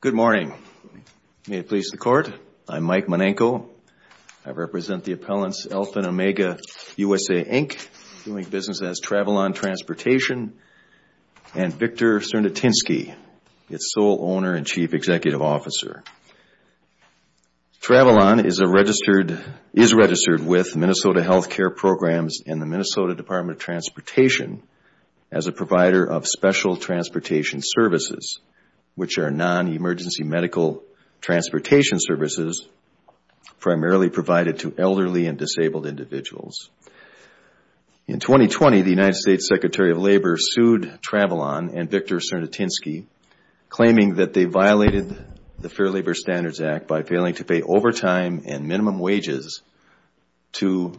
Good morning. May it please the Court, I'm Mike Monenco. I represent the appellants Alpha & Omega USA, Inc., doing business as Travalon Transportation, and Victor Cernotinsky, its sole owner and chief executive officer. Travalon is registered with Minnesota Health Care Programs and the Minnesota Department of Transportation as a provider of special transportation services, which are non-emergency medical transportation services primarily provided to elderly and disabled individuals. In 2020, the United States Secretary of Labor sued Travalon and Victor Cernotinsky, claiming that they violated the Fair Labor Standards Act by failing to pay overtime and minimum wages to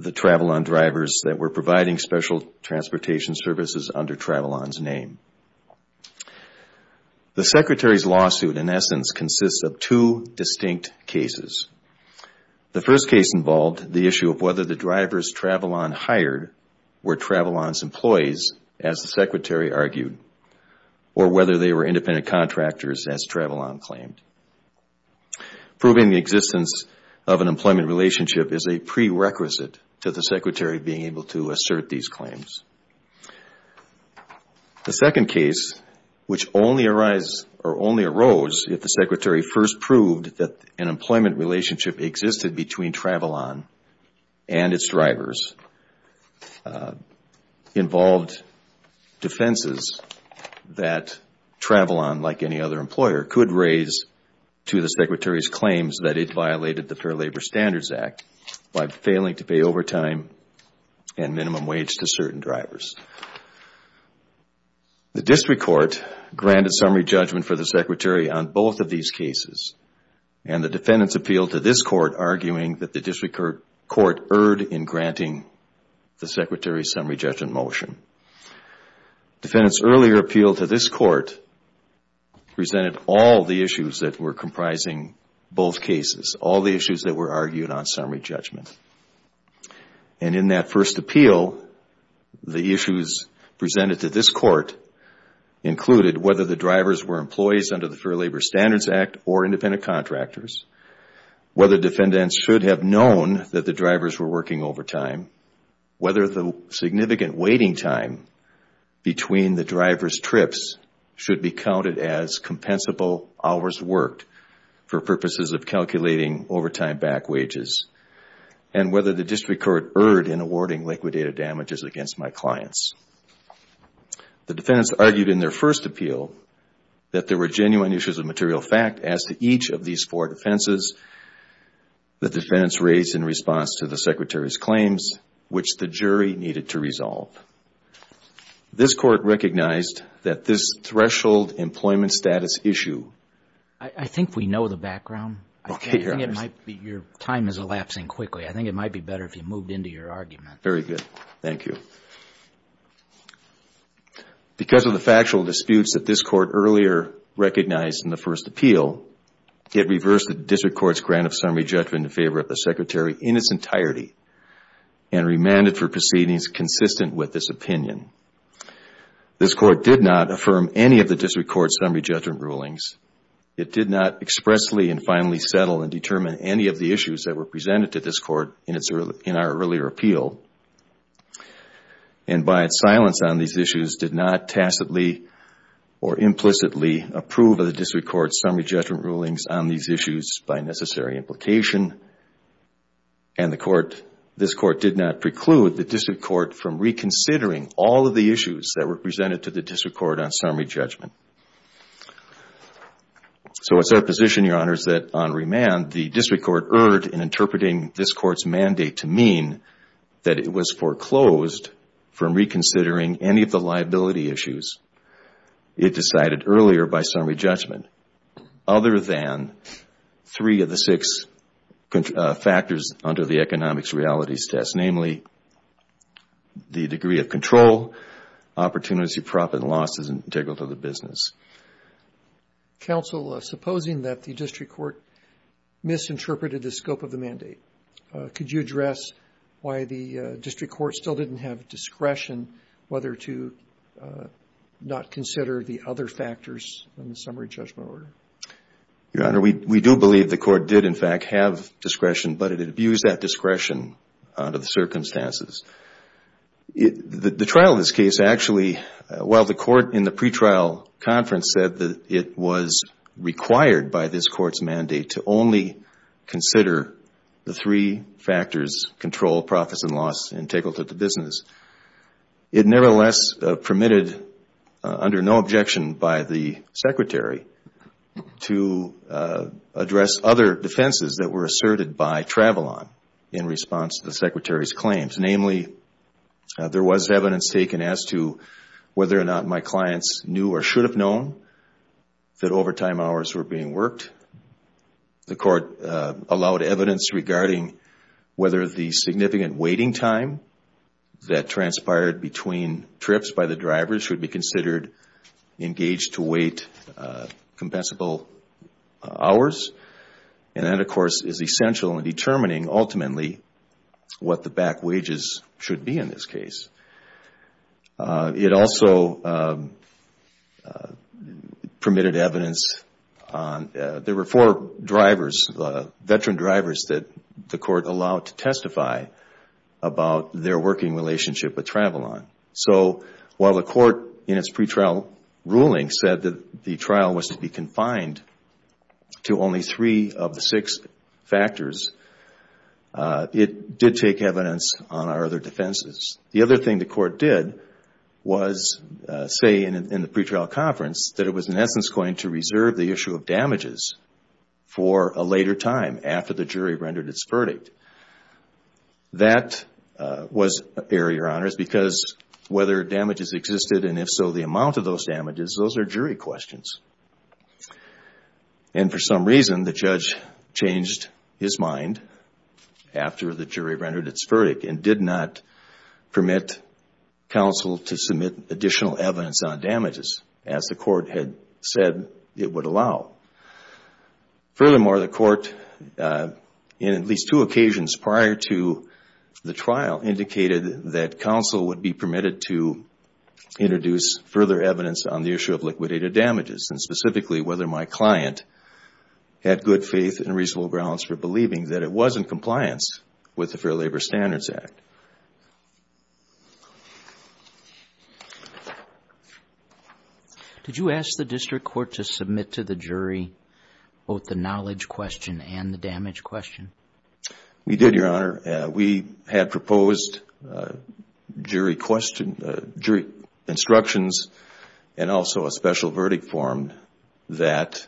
the Travalon drivers that were providing special transportation services under Travalon's name. The Secretary's lawsuit, in essence, consists of two distinct cases. The first case involved the issue of whether the drivers Travalon hired were Travalon's employees, as the Secretary argued, or whether they were independent contractors, as Travalon claimed. Proving the existence of an employment relationship is a prerequisite to the Secretary being able to assert these claims. The second case, which only arose if the Secretary first proved that an employment relationship existed between Travalon and its drivers, involved defenses that Travalon, like any other employer, could raise to the Secretary's claims that it violated the Fair Labor Standards Act by failing to pay overtime and minimum wage to certain drivers. The district court granted summary judgment for the Secretary on both of these cases, and the defendants appealed to this court, arguing that the district court erred in granting the Secretary's summary judgment motion. Defendants' earlier appeal to this court presented all the issues that were comprising both cases, all the issues that were argued on summary judgment. And in that first appeal, the issues presented to this court included whether the drivers were employees under the Fair Labor Standards Act or independent contractors, whether defendants should have known that the drivers were working overtime, whether the significant waiting time was sufficient to get a fair labor standard. The defendants argued in their first appeal that there were genuine issues of material fact as to each of these four defenses the defendants raised in response to the Secretary's claims, which the jury needed to resolve. This court recognized that this threshold employment status issue, because of the factual disputes that this court earlier recognized in the first appeal, it reversed the district court's grant of summary judgment in favor of the Secretary in its entirety and remanded for proceedings consistent with this opinion. This court did not affirm any of the district court's summary judgment rulings. It did not expressly and finally settle and determine any of the issues that were presented to this court in our earlier appeal, and by its silence on these issues did not tacitly or implicitly approve of the district court's summary judgment rulings on these issues by necessary implication. And this court did not preclude the district court from reconsidering all of the issues that were presented to the district court on summary judgment. So it is our position, Your Honors, that on remand, the district court erred in interpreting this court's mandate to mean that it was foreclosed from reconsidering any of the liability issues it decided earlier by summary judgment, other than three of the six factors under the economics realities test, namely the degree of control, opportunity, profit and loss, and integrity of the business. Counsel, supposing that the district court misinterpreted the scope of the mandate, could you address why the district court still didn't have discretion whether to not consider the other factors in the summary judgment order? Your Honor, we do believe the court did, in fact, have discretion, but it abused that discretion under the circumstances. The trial of this case actually, while the court in the pretrial conference said that it was required by this court's mandate to only consider the three factors, control, profits and loss, integrity of the business, it nevertheless permitted, under no objection by the Secretary, to address other defenses that were asserted by Travilon in response to the Secretary's claims. Namely, there was evidence taken as to whether or not my clients knew or should have known that overtime hours were being worked. The court allowed evidence regarding whether the significant waiting time that transpired between trips by the drivers should be considered engaged to wait compensable hours. And that, of course, is essential in determining, ultimately, what the back wages should be in this case. It also permitted evidence on, there were four drivers, veteran drivers that the court allowed to testify about their working relationship with Travilon. So, while the court, in its pretrial ruling, said that the trial was to be confined to only three of the six factors, it did take evidence on our other defenses. The other thing the court did was say in the pretrial conference that it was, in essence, going to reserve the issue of damages for a later time after the jury rendered its verdict. That was error, Your Honors, because whether damages existed and, if so, the amount of those damages, those are jury questions. And, for some reason, the judge changed his mind after the jury rendered its verdict and did not permit counsel to submit additional evidence on damages as the court had said it would allow. Furthermore, the court, in at least two occasions prior to the trial, indicated that counsel would be permitted to introduce further evidence on the issue of liquidated damages and, specifically, whether my client had good faith and reasonable grounds for believing that it was in compliance with the Fair Labor Standards Act. Did you ask the district court to submit to the jury both the knowledge question and the damage question? We did, Your Honor. We had proposed jury instructions and also a special verdict form that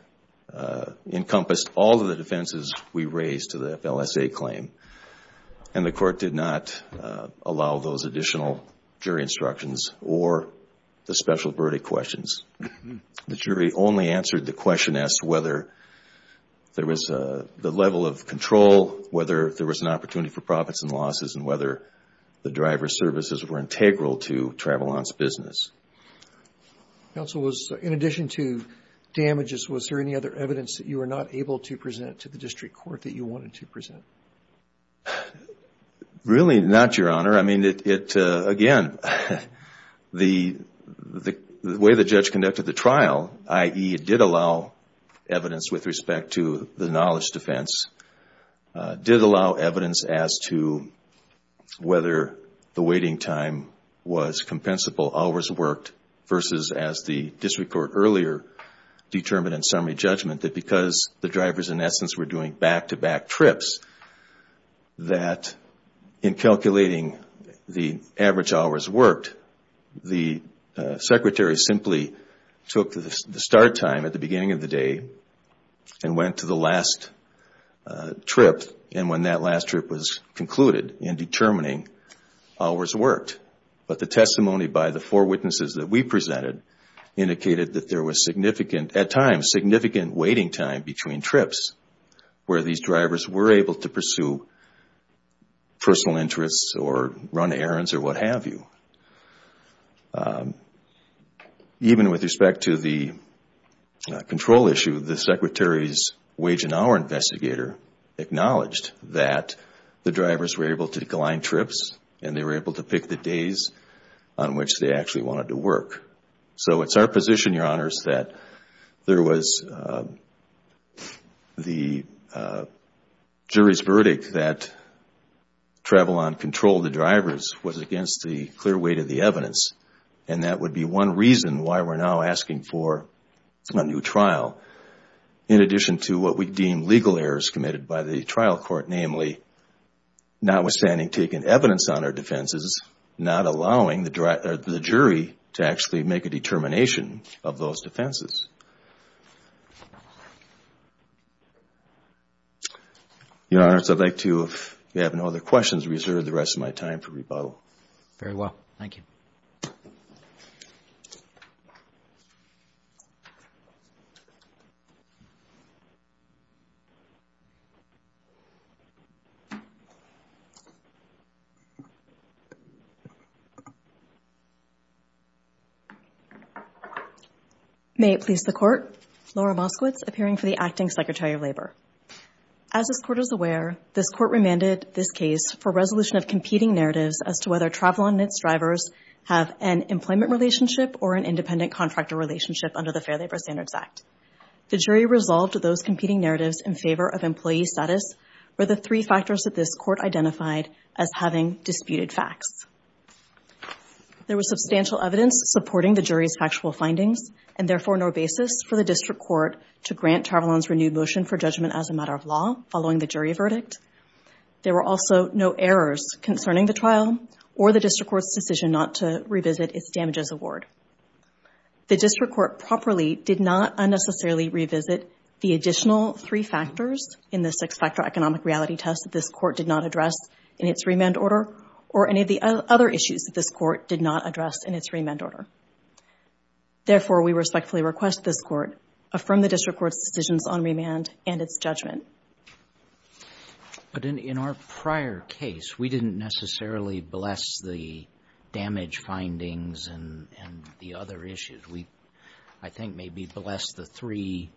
encompassed all of the defenses we raised to the FLSA claim. And the court did not allow those additional jury instructions or the special verdict questions. The jury only answered the question as to whether there was the level of control, whether there was an opportunity for profits and losses, and whether the driver's services were integral to Travolon's business. Counsel, in addition to damages, was there any other evidence that you were not able to present to the district court that you wanted to present? Really not, Your Honor. I mean, again, the way the judge conducted the trial, i.e., it did allow evidence with respect to the knowledge defense, did allow evidence as to whether the waiting time was compensable, hours worked, versus as the district court earlier determined in summary judgment that because the drivers, in essence, were doing back-to-back trips, that in calculating the average hours worked, the secretary simply took the start time at the beginning of the day and went to the last trip, and when that last trip was concluded in determining, hours worked. But the testimony by the four witnesses that we presented indicated that there was significant, at times, significant waiting time between trips where these drivers were able to pursue personal interests or run errands or what have you. Even with respect to the control issue, the secretary's wage and hour investigator acknowledged that the drivers were able to decline trips and they were able to pick the days on which they actually wanted to work. So it's our position, Your Honors, that there was the jury's verdict that travel on control of the drivers was against the clear weight of the evidence, and that would be one reason why we're now asking for a new trial in addition to what we deem legal errors committed by the trial court, namely notwithstanding taking evidence on our defenses, not allowing the jury to actually make a determination of those defenses. Your Honors, I'd like to, if you have no other questions, reserve the rest of my time for rebuttal. Very well. Thank you. May it please the Court. Laura Moskowitz, appearing for the Acting Secretary of Labor. As this Court is aware, this Court remanded this case for resolution of competing narratives as to whether Travelon and its drivers have an employment relationship or an independent contractor relationship under the Fair Labor Standards Act. The jury resolved those competing narratives in favor of employee status were the three factors that this Court identified as having disputed facts. There was substantial evidence supporting the jury's factual findings and, therefore, no basis for the District Court to grant Travelon's renewed motion for judgment as a matter of law following the jury verdict. There were also no errors concerning the trial or the District Court's decision not to revisit its damages award. The District Court properly did not unnecessarily revisit the additional three factors in the six-factor economic reality test that this Court did not address in its remand order or any of the other issues that this Court did not address in its remand order. Therefore, we respectfully request this Court affirm the District Court's decisions on remand and its judgment. But in our prior case, we didn't necessarily bless the damage findings and the other issues. We, I think, maybe blessed the three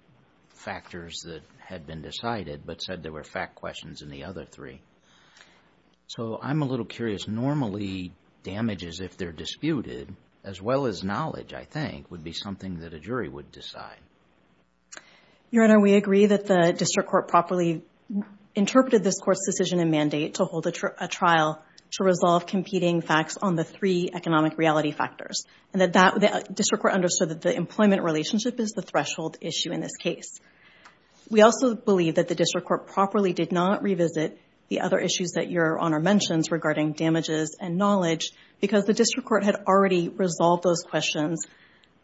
factors that had been decided but said there were fact questions in the other three. So I'm a little curious. Normally, damages, if they're disputed, as well as knowledge, I think, would be something that a jury would decide. Your Honor, we agree that the District Court properly interpreted this Court's decision and mandate to hold a trial to resolve competing facts on the three economic reality factors and that that District Court understood that the employment relationship is the threshold issue in this case. We also believe that the District Court properly did not revisit the other issues that Your Honor mentions regarding damages and knowledge because the District Court had already resolved those questions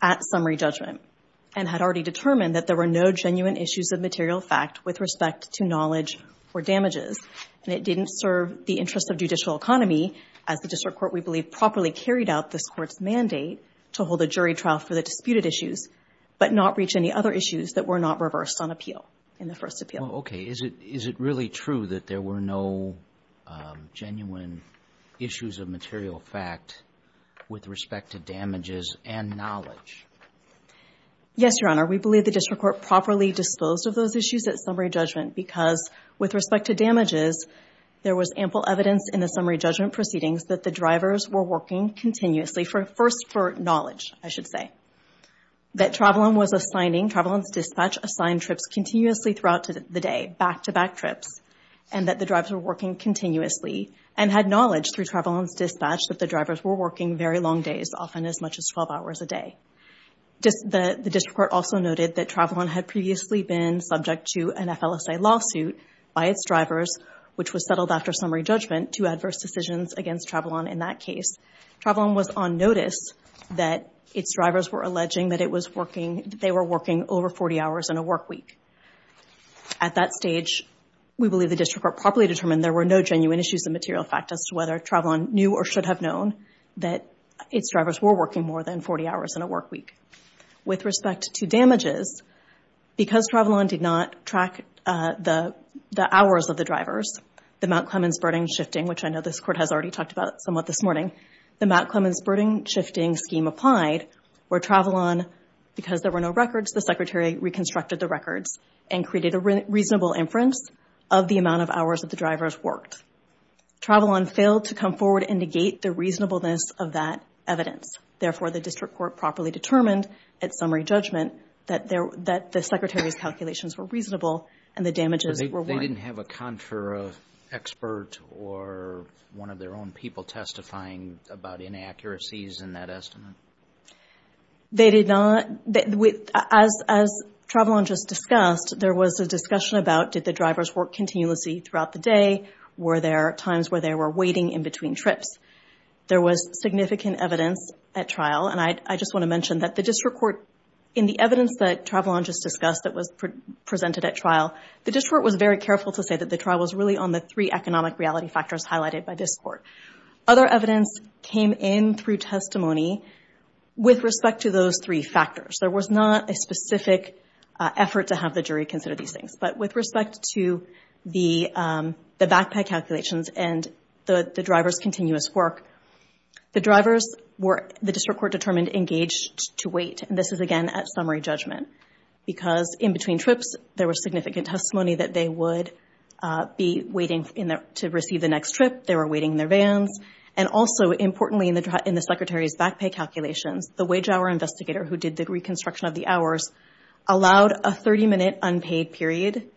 at summary judgment and had already determined that there were no genuine issues of material fact with respect to knowledge or damages. And it didn't serve the interests of judicial economy as the District Court, we believe, properly carried out this Court's mandate to hold a jury trial for the disputed issues but not reach any other issues that were not reversed on appeal in the first appeal. Okay. Is it really true that there were no genuine issues of material fact with respect to damages and knowledge? Yes, Your Honor. We believe the District Court properly disposed of those issues at summary judgment because with respect to damages, there was ample evidence in the summary judgment proceedings that the drivers were working continuously first for knowledge, I should say. That Travelon was assigning, Travelon's dispatch assigned trips continuously throughout the day, back-to-back trips, and that the drivers were working continuously and had knowledge through Travelon's dispatch that the drivers were working very long days, often as much as 12 hours a day. The District Court also noted that Travelon had previously been subject to an FLSA lawsuit by its drivers, which was settled after summary judgment to adverse decisions against Travelon in that case. Travelon was on notice that its drivers were alleging that it was working, they were working over 40 hours in a work week. At that stage, we believe the District Court properly determined there were no genuine issues of material fact as to whether Travelon knew or should have known that its drivers were working more than 40 hours in a work week. With respect to damages, because Travelon did not track the hours of the drivers, the Mount Clemens birding shifting, which I know this Court has already talked about somewhat this morning, the Mount Clemens birding shifting scheme applied where Travelon, because there were no records, the Secretary reconstructed the records and created a reasonable inference of the amount of hours that the drivers worked. Travelon failed to come forward and negate the reasonableness of that evidence. Therefore, the District Court properly determined at summary judgment that the Secretary's calculations were reasonable and the damages were one. They didn't have a contra expert or one of their own people testifying about inaccuracies in that estimate? They did not. As Travelon just discussed, there was a discussion about did the drivers work continuously throughout the day, were there times where they were waiting in between trips? There was significant evidence at trial, and I just want to mention that the District Court, in the evidence that Travelon just discussed that was presented at trial, the District Court was very careful to say that the trial was really on the three economic reality factors highlighted by this Court. Other evidence came in through testimony with respect to those three factors. There was not a specific effort to have the jury consider these things, but with respect to the backpack calculations and the drivers' continuous work, the District Court determined the drivers were engaged to wait, and this is, again, at summary judgment. Because in between trips, there was significant testimony that they would be waiting to receive the next trip. They were waiting in their vans. And also, importantly, in the Secretary's backpack calculations, the wage hour investigator who did the reconstruction of the hours allowed a 30-minute unpaid period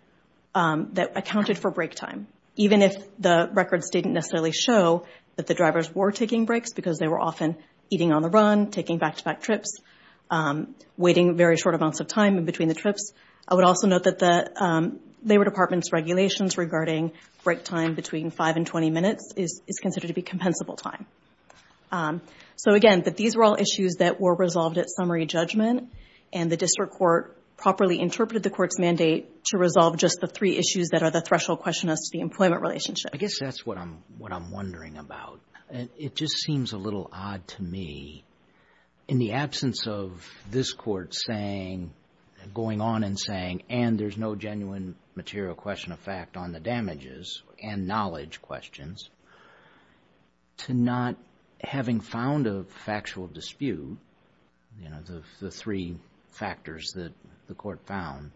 that accounted for break time, even if the records didn't necessarily show that the drivers were taking breaks because they were often eating on the run, taking back-to-back trips, waiting very short amounts of time in between the trips. I would also note that the Labor Department's regulations regarding break time between 5 and 20 minutes is considered to be compensable time. So, again, these were all issues that were resolved at summary judgment, and the District Court properly interpreted the Court's mandate to resolve just the three issues that are the threshold question as to the employment relationship. I guess that's what I'm wondering about. It just seems a little odd to me, in the absence of this Court going on and saying, and there's no genuine material question of fact on the damages and knowledge questions, to not having found a factual dispute, you know, the three factors that the Court found.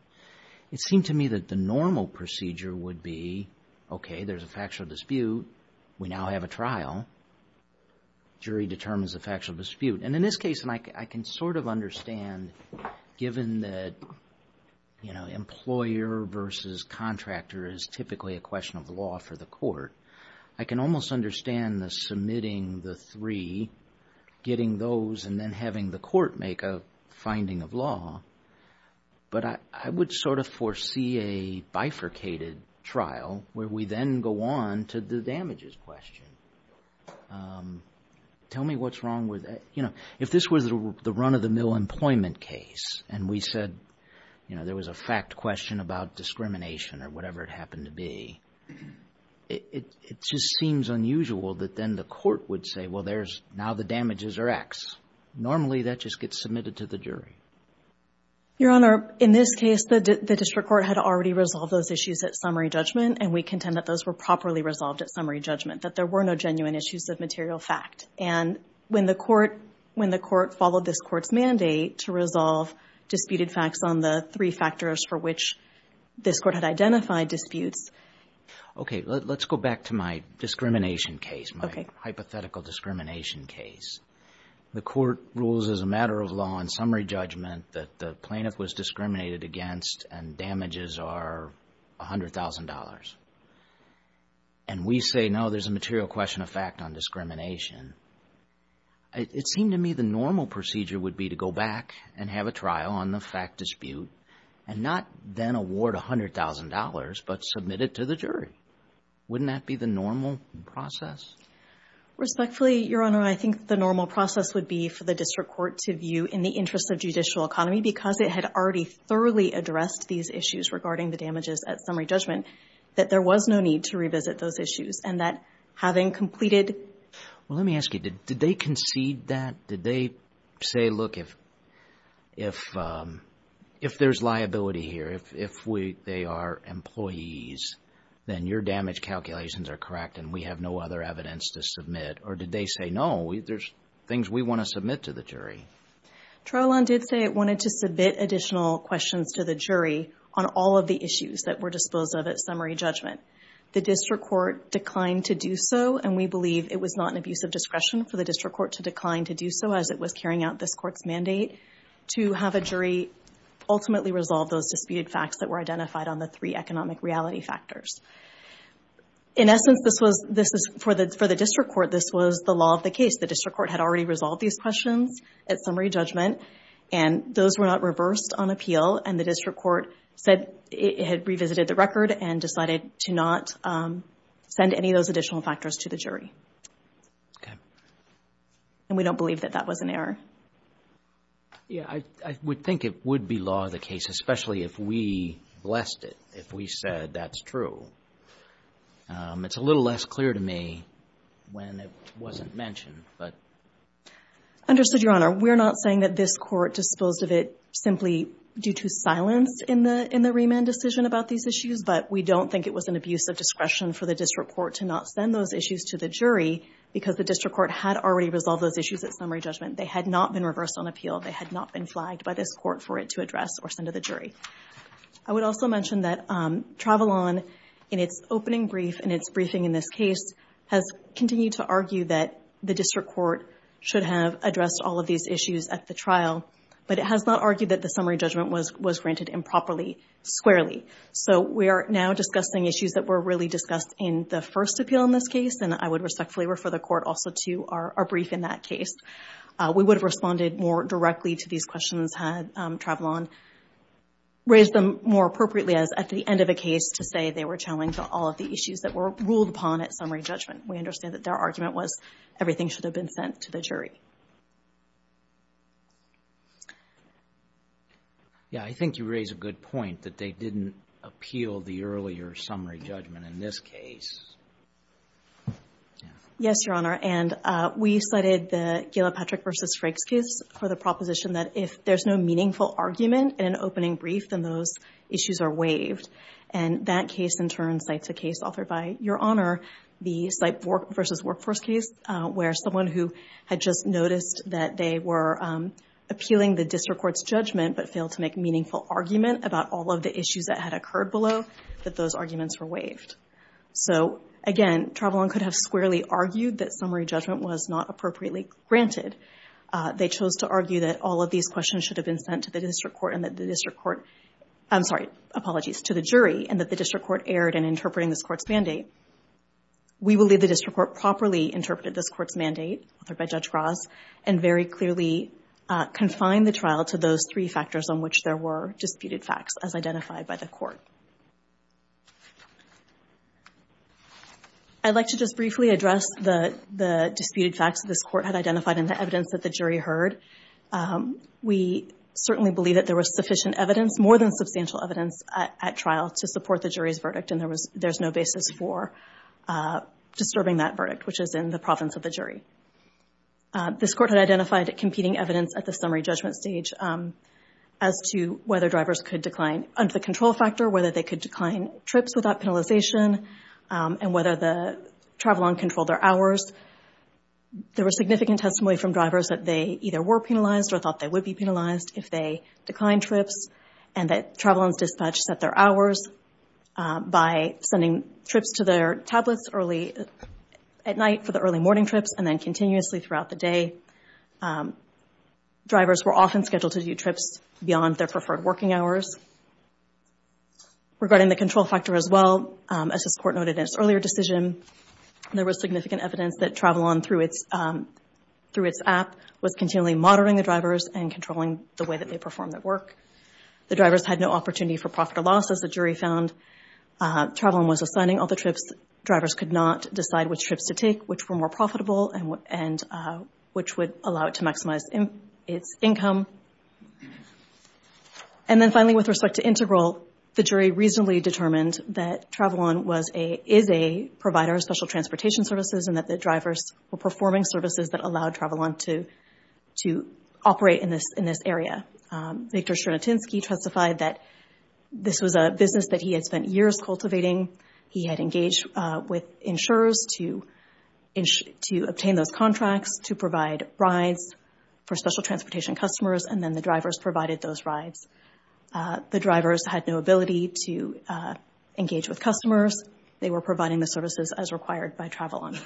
It seemed to me that the normal procedure would be, okay, there's a factual dispute. We now have a trial. Jury determines the factual dispute. And in this case, I can sort of understand, given that, you know, employer versus contractor is typically a question of law for the Court. I can almost understand the submitting the three, getting those, and then having the Court make a finding of law. But I would sort of foresee a bifurcated trial where we then go on to the damages question. Tell me what's wrong with that. You know, if this was the run-of-the-mill employment case and we said, you know, there was a fact question about discrimination or whatever it happened to be, it just seems unusual that then the Court would say, well, now the damages are X. Normally, that just gets submitted to the jury. Your Honor, in this case, the District Court had already resolved those issues at summary judgment, and we contend that those were properly resolved at summary judgment, that there were no genuine issues of material fact. And when the Court followed this Court's mandate to resolve disputed facts on the three factors for which this Court had identified disputes. Okay. Let's go back to my discrimination case, my hypothetical discrimination case. The Court rules as a matter of law in summary judgment that the plaintiff was discriminated against and damages are $100,000. And we say, no, there's a material question of fact on discrimination. It seemed to me the normal procedure would be to go back and have a trial on the fact dispute and not then award $100,000 but submit it to the jury. Wouldn't that be the normal process? Respectfully, Your Honor, I think the normal process would be for the District Court to view in the interest of judicial economy because it had already thoroughly addressed these issues regarding the damages at summary judgment, that there was no need to revisit those issues and that having completed. Well, let me ask you, did they concede that? Did they say, look, if there's liability here, if they are employees, then your damage calculations are correct and we have no other evidence to submit? Or did they say, no, there's things we want to submit to the jury? Trial law did say it wanted to submit additional questions to the jury on all of the issues that were disposed of at summary judgment. The District Court declined to do so, and we believe it was not an abuse of discretion for the District Court to decline to do so as it was carrying out this Court's mandate to have a jury ultimately resolve those disputed facts that were identified on the three economic reality factors. In essence, for the District Court, this was the law of the case. The District Court had already resolved these questions at summary judgment, and those were not reversed on appeal, and the District Court said it had revisited the record and decided to not send any of those additional factors to the jury. Okay. And we don't believe that that was an error. Yeah, I would think it would be law of the case, especially if we blessed it, if we said that's true. It's a little less clear to me when it wasn't mentioned, but... Understood, Your Honor. We're not saying that this Court disposed of it simply due to silence in the remand decision about these issues, but we don't think it was an abuse of discretion for the District Court to not send those issues to the jury because the District Court had already resolved those issues at summary judgment. They had not been reversed on appeal. They had not been flagged by this Court for it to address or send to the jury. I would also mention that Travalon, in its opening brief and its briefing in this case, has continued to argue that the District Court should have addressed all of these issues at the trial, but it has not argued that the summary judgment was granted improperly, squarely. So we are now discussing issues that were really discussed in the first appeal in this case, and I would respectfully refer the Court also to our brief in that case. We would have responded more directly to these questions had Travalon raised them more appropriately as at the end of a case to say they were challenging all of the issues that were ruled upon at summary judgment. We understand that their argument was everything should have been sent to the jury. Yeah, I think you raise a good point that they didn't appeal the earlier summary judgment in this case. Yes, Your Honor, and we cited the Gilpatrick v. Frakes case for the proposition that if there's no meaningful argument in an opening brief, then those issues are waived. And that case, in turn, cites a case authored by Your Honor, the Sipe v. Workforce case, where someone who had just noticed that they were appealing the district court's judgment but failed to make meaningful argument about all of the issues that had occurred below, that those arguments were waived. So, again, Travalon could have squarely argued that summary judgment was not appropriately granted. They chose to argue that all of these questions should have been sent to the district court and that the district court, I'm sorry, apologies, to the jury, We believe the district court properly interpreted this court's mandate, authored by Judge Ross, and very clearly confined the trial to those three factors on which there were disputed facts, as identified by the court. I'd like to just briefly address the disputed facts that this court had identified and the evidence that the jury heard. We certainly believe that there was sufficient evidence, more than substantial evidence, at trial to support the jury's verdict, and there's no basis for disturbing that verdict, which is in the province of the jury. This court had identified competing evidence at the summary judgment stage as to whether drivers could decline under the control factor, whether they could decline trips without penalization, and whether the Travalon controlled their hours. There was significant testimony from drivers that they either were penalized or thought they would be penalized if they declined trips, and that Travalon's dispatch set their hours by sending trips to their tablets early at night for the early morning trips and then continuously throughout the day. Drivers were often scheduled to do trips beyond their preferred working hours. Regarding the control factor as well, as this court noted in its earlier decision, there was significant evidence that Travalon, through its app, was continually monitoring the drivers and controlling the way that they performed their work. The drivers had no opportunity for profit or loss, as the jury found. Travalon was assigning all the trips. Drivers could not decide which trips to take, which were more profitable, and which would allow it to maximize its income. And then finally, with respect to integral, the jury reasonably determined that Travalon is a provider of special transportation services and that the drivers were performing services that allowed Travalon to operate in this area. Victor Stranatinsky testified that this was a business that he had spent years cultivating. He had engaged with insurers to obtain those contracts, to provide rides for special transportation customers, and then the drivers provided those rides. They were providing the services as required by Travalon.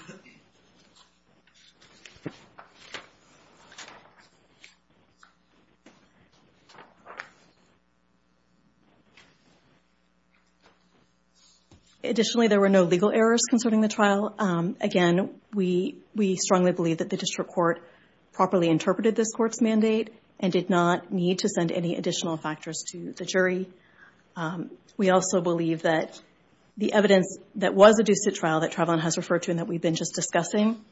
Additionally, there were no legal errors concerning the trial. Again, we strongly believe that the district court properly interpreted this court's mandate and did not need to send any additional factors to the jury. We also believe that the evidence that was adduced at trial that Travalon has referred to and that we've been just discussing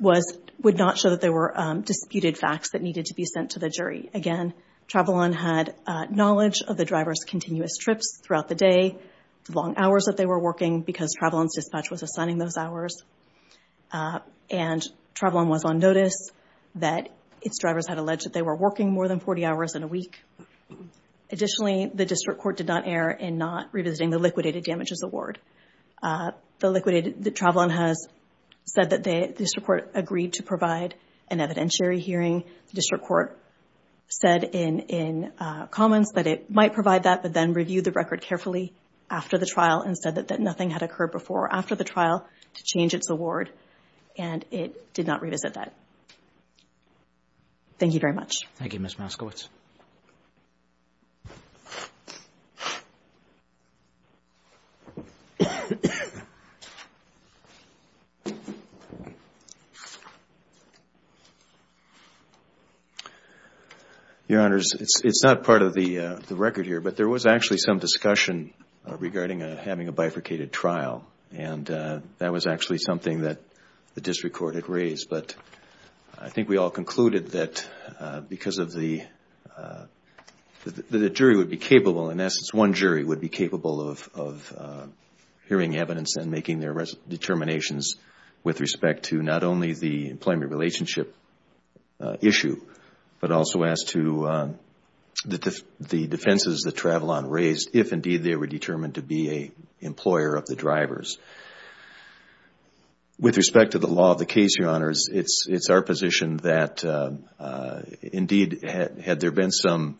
would not show that there were disputed facts that needed to be sent to the jury. Again, Travalon had knowledge of the drivers' continuous trips throughout the day, the long hours that they were working, because Travalon's dispatch was assigning those hours. And Travalon was on notice that its drivers had alleged that they were working more than 40 hours in a week. Additionally, the district court did not err in not revisiting the liquidated damages award. Travalon has said that the district court agreed to provide an evidentiary hearing. The district court said in comments that it might provide that, but then reviewed the record carefully after the trial and said that nothing had occurred before or after the trial to change its award, and it did not revisit that. Thank you very much. Thank you, Ms. Moskowitz. Your Honors, it's not part of the record here, but there was actually some discussion regarding having a bifurcated trial, and that was actually something that the district court had raised. But I think we all concluded that because of the jury would be capable, in essence one jury would be capable of hearing evidence and making their determinations with respect to not only the employment relationship issue, but also as to the defenses that Travalon raised, if indeed they were determined to be an employer of the drivers. With respect to the law of the case, Your Honors, it's our position that indeed had there been some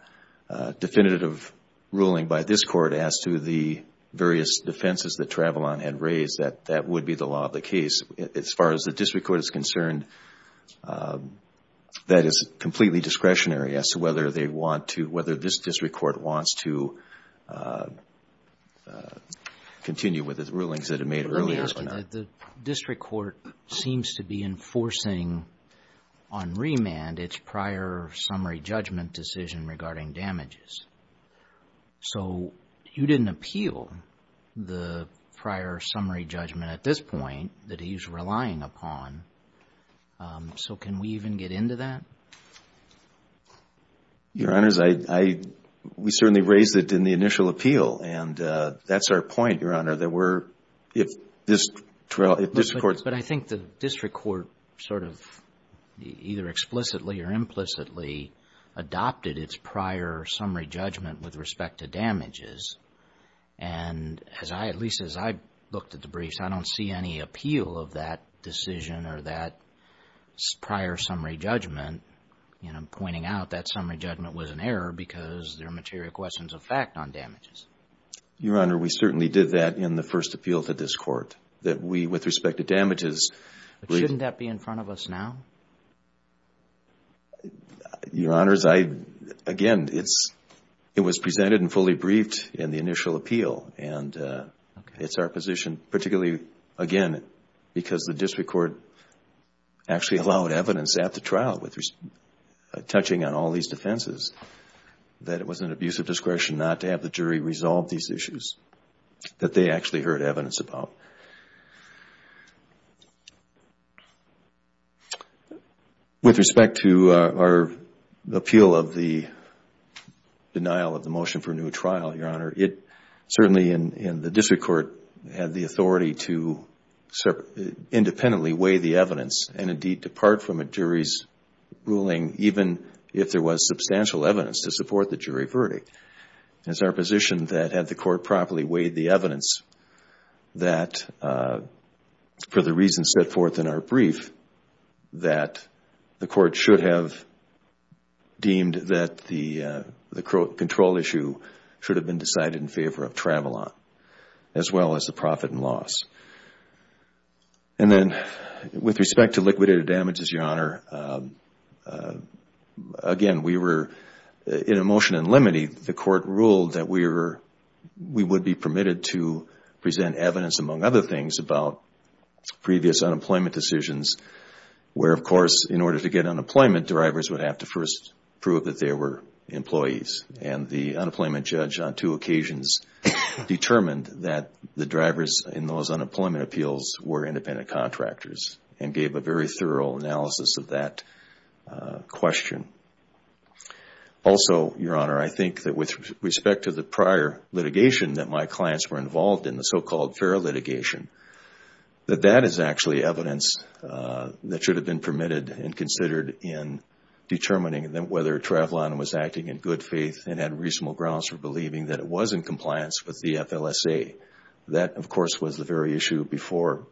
definitive ruling by this court as to the various defenses that Travalon had raised, that that would be the law of the case. As far as the district court is concerned, that is completely discretionary whether this district court wants to continue with the rulings that it made earlier. Let me ask you that the district court seems to be enforcing on remand its prior summary judgment decision regarding damages. So you didn't appeal the prior summary judgment at this point that he's relying upon. So can we even get into that? Your Honors, we certainly raised it in the initial appeal. And that's our point, Your Honor, that we're, if this court But I think the district court sort of either explicitly or implicitly adopted its prior summary judgment with respect to damages. And at least as I looked at the briefs, I don't see any appeal of that decision or that prior summary judgment, pointing out that summary judgment was an error because there are material questions of fact on damages. Your Honor, we certainly did that in the first appeal to this court, that we, with respect to damages, But shouldn't that be in front of us now? Your Honors, again, it was presented and fully briefed in the initial appeal. And it's our position, particularly, again, because the district court actually allowed evidence at the trial with touching on all these defenses, that it was an abuse of discretion not to have the jury resolve these issues that they actually heard evidence about. With respect to our appeal of the denial of the motion for a new trial, Your Honor, it certainly, in the district court, had the authority to independently weigh the evidence and indeed depart from a jury's ruling, even if there was substantial evidence to support the jury verdict. It's our position that had the court properly weighed the evidence that for the reasons set forth in our brief, that the court should have deemed that the control issue should have been decided in favor of Travilon, as well as the profit and loss. And then, with respect to liquidated damages, Your Honor, again, we were, in a motion in limine, the court ruled that we would be permitted to present evidence, among other things, about previous unemployment decisions, where, of course, in order to get unemployment, drivers would have to first prove that they were employees. And the unemployment judge, on two occasions, determined that the drivers in those unemployment appeals were independent contractors and gave a very thorough analysis of that question. Also, Your Honor, I think that with respect to the prior litigation that my clients were involved in, the so-called FARA litigation, that that is actually evidence that should have been permitted and considered in determining whether Travilon was acting in good faith and had reasonable grounds for believing that it was in compliance with the FLSA. That, of course, was the very issue before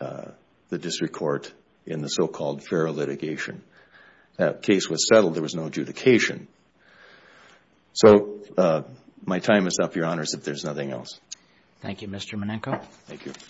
the district court in the so-called FARA litigation. That case was settled. There was no adjudication. So my time is up, Your Honors, if there's nothing else. Thank you, Mr. Menenko. Thank you.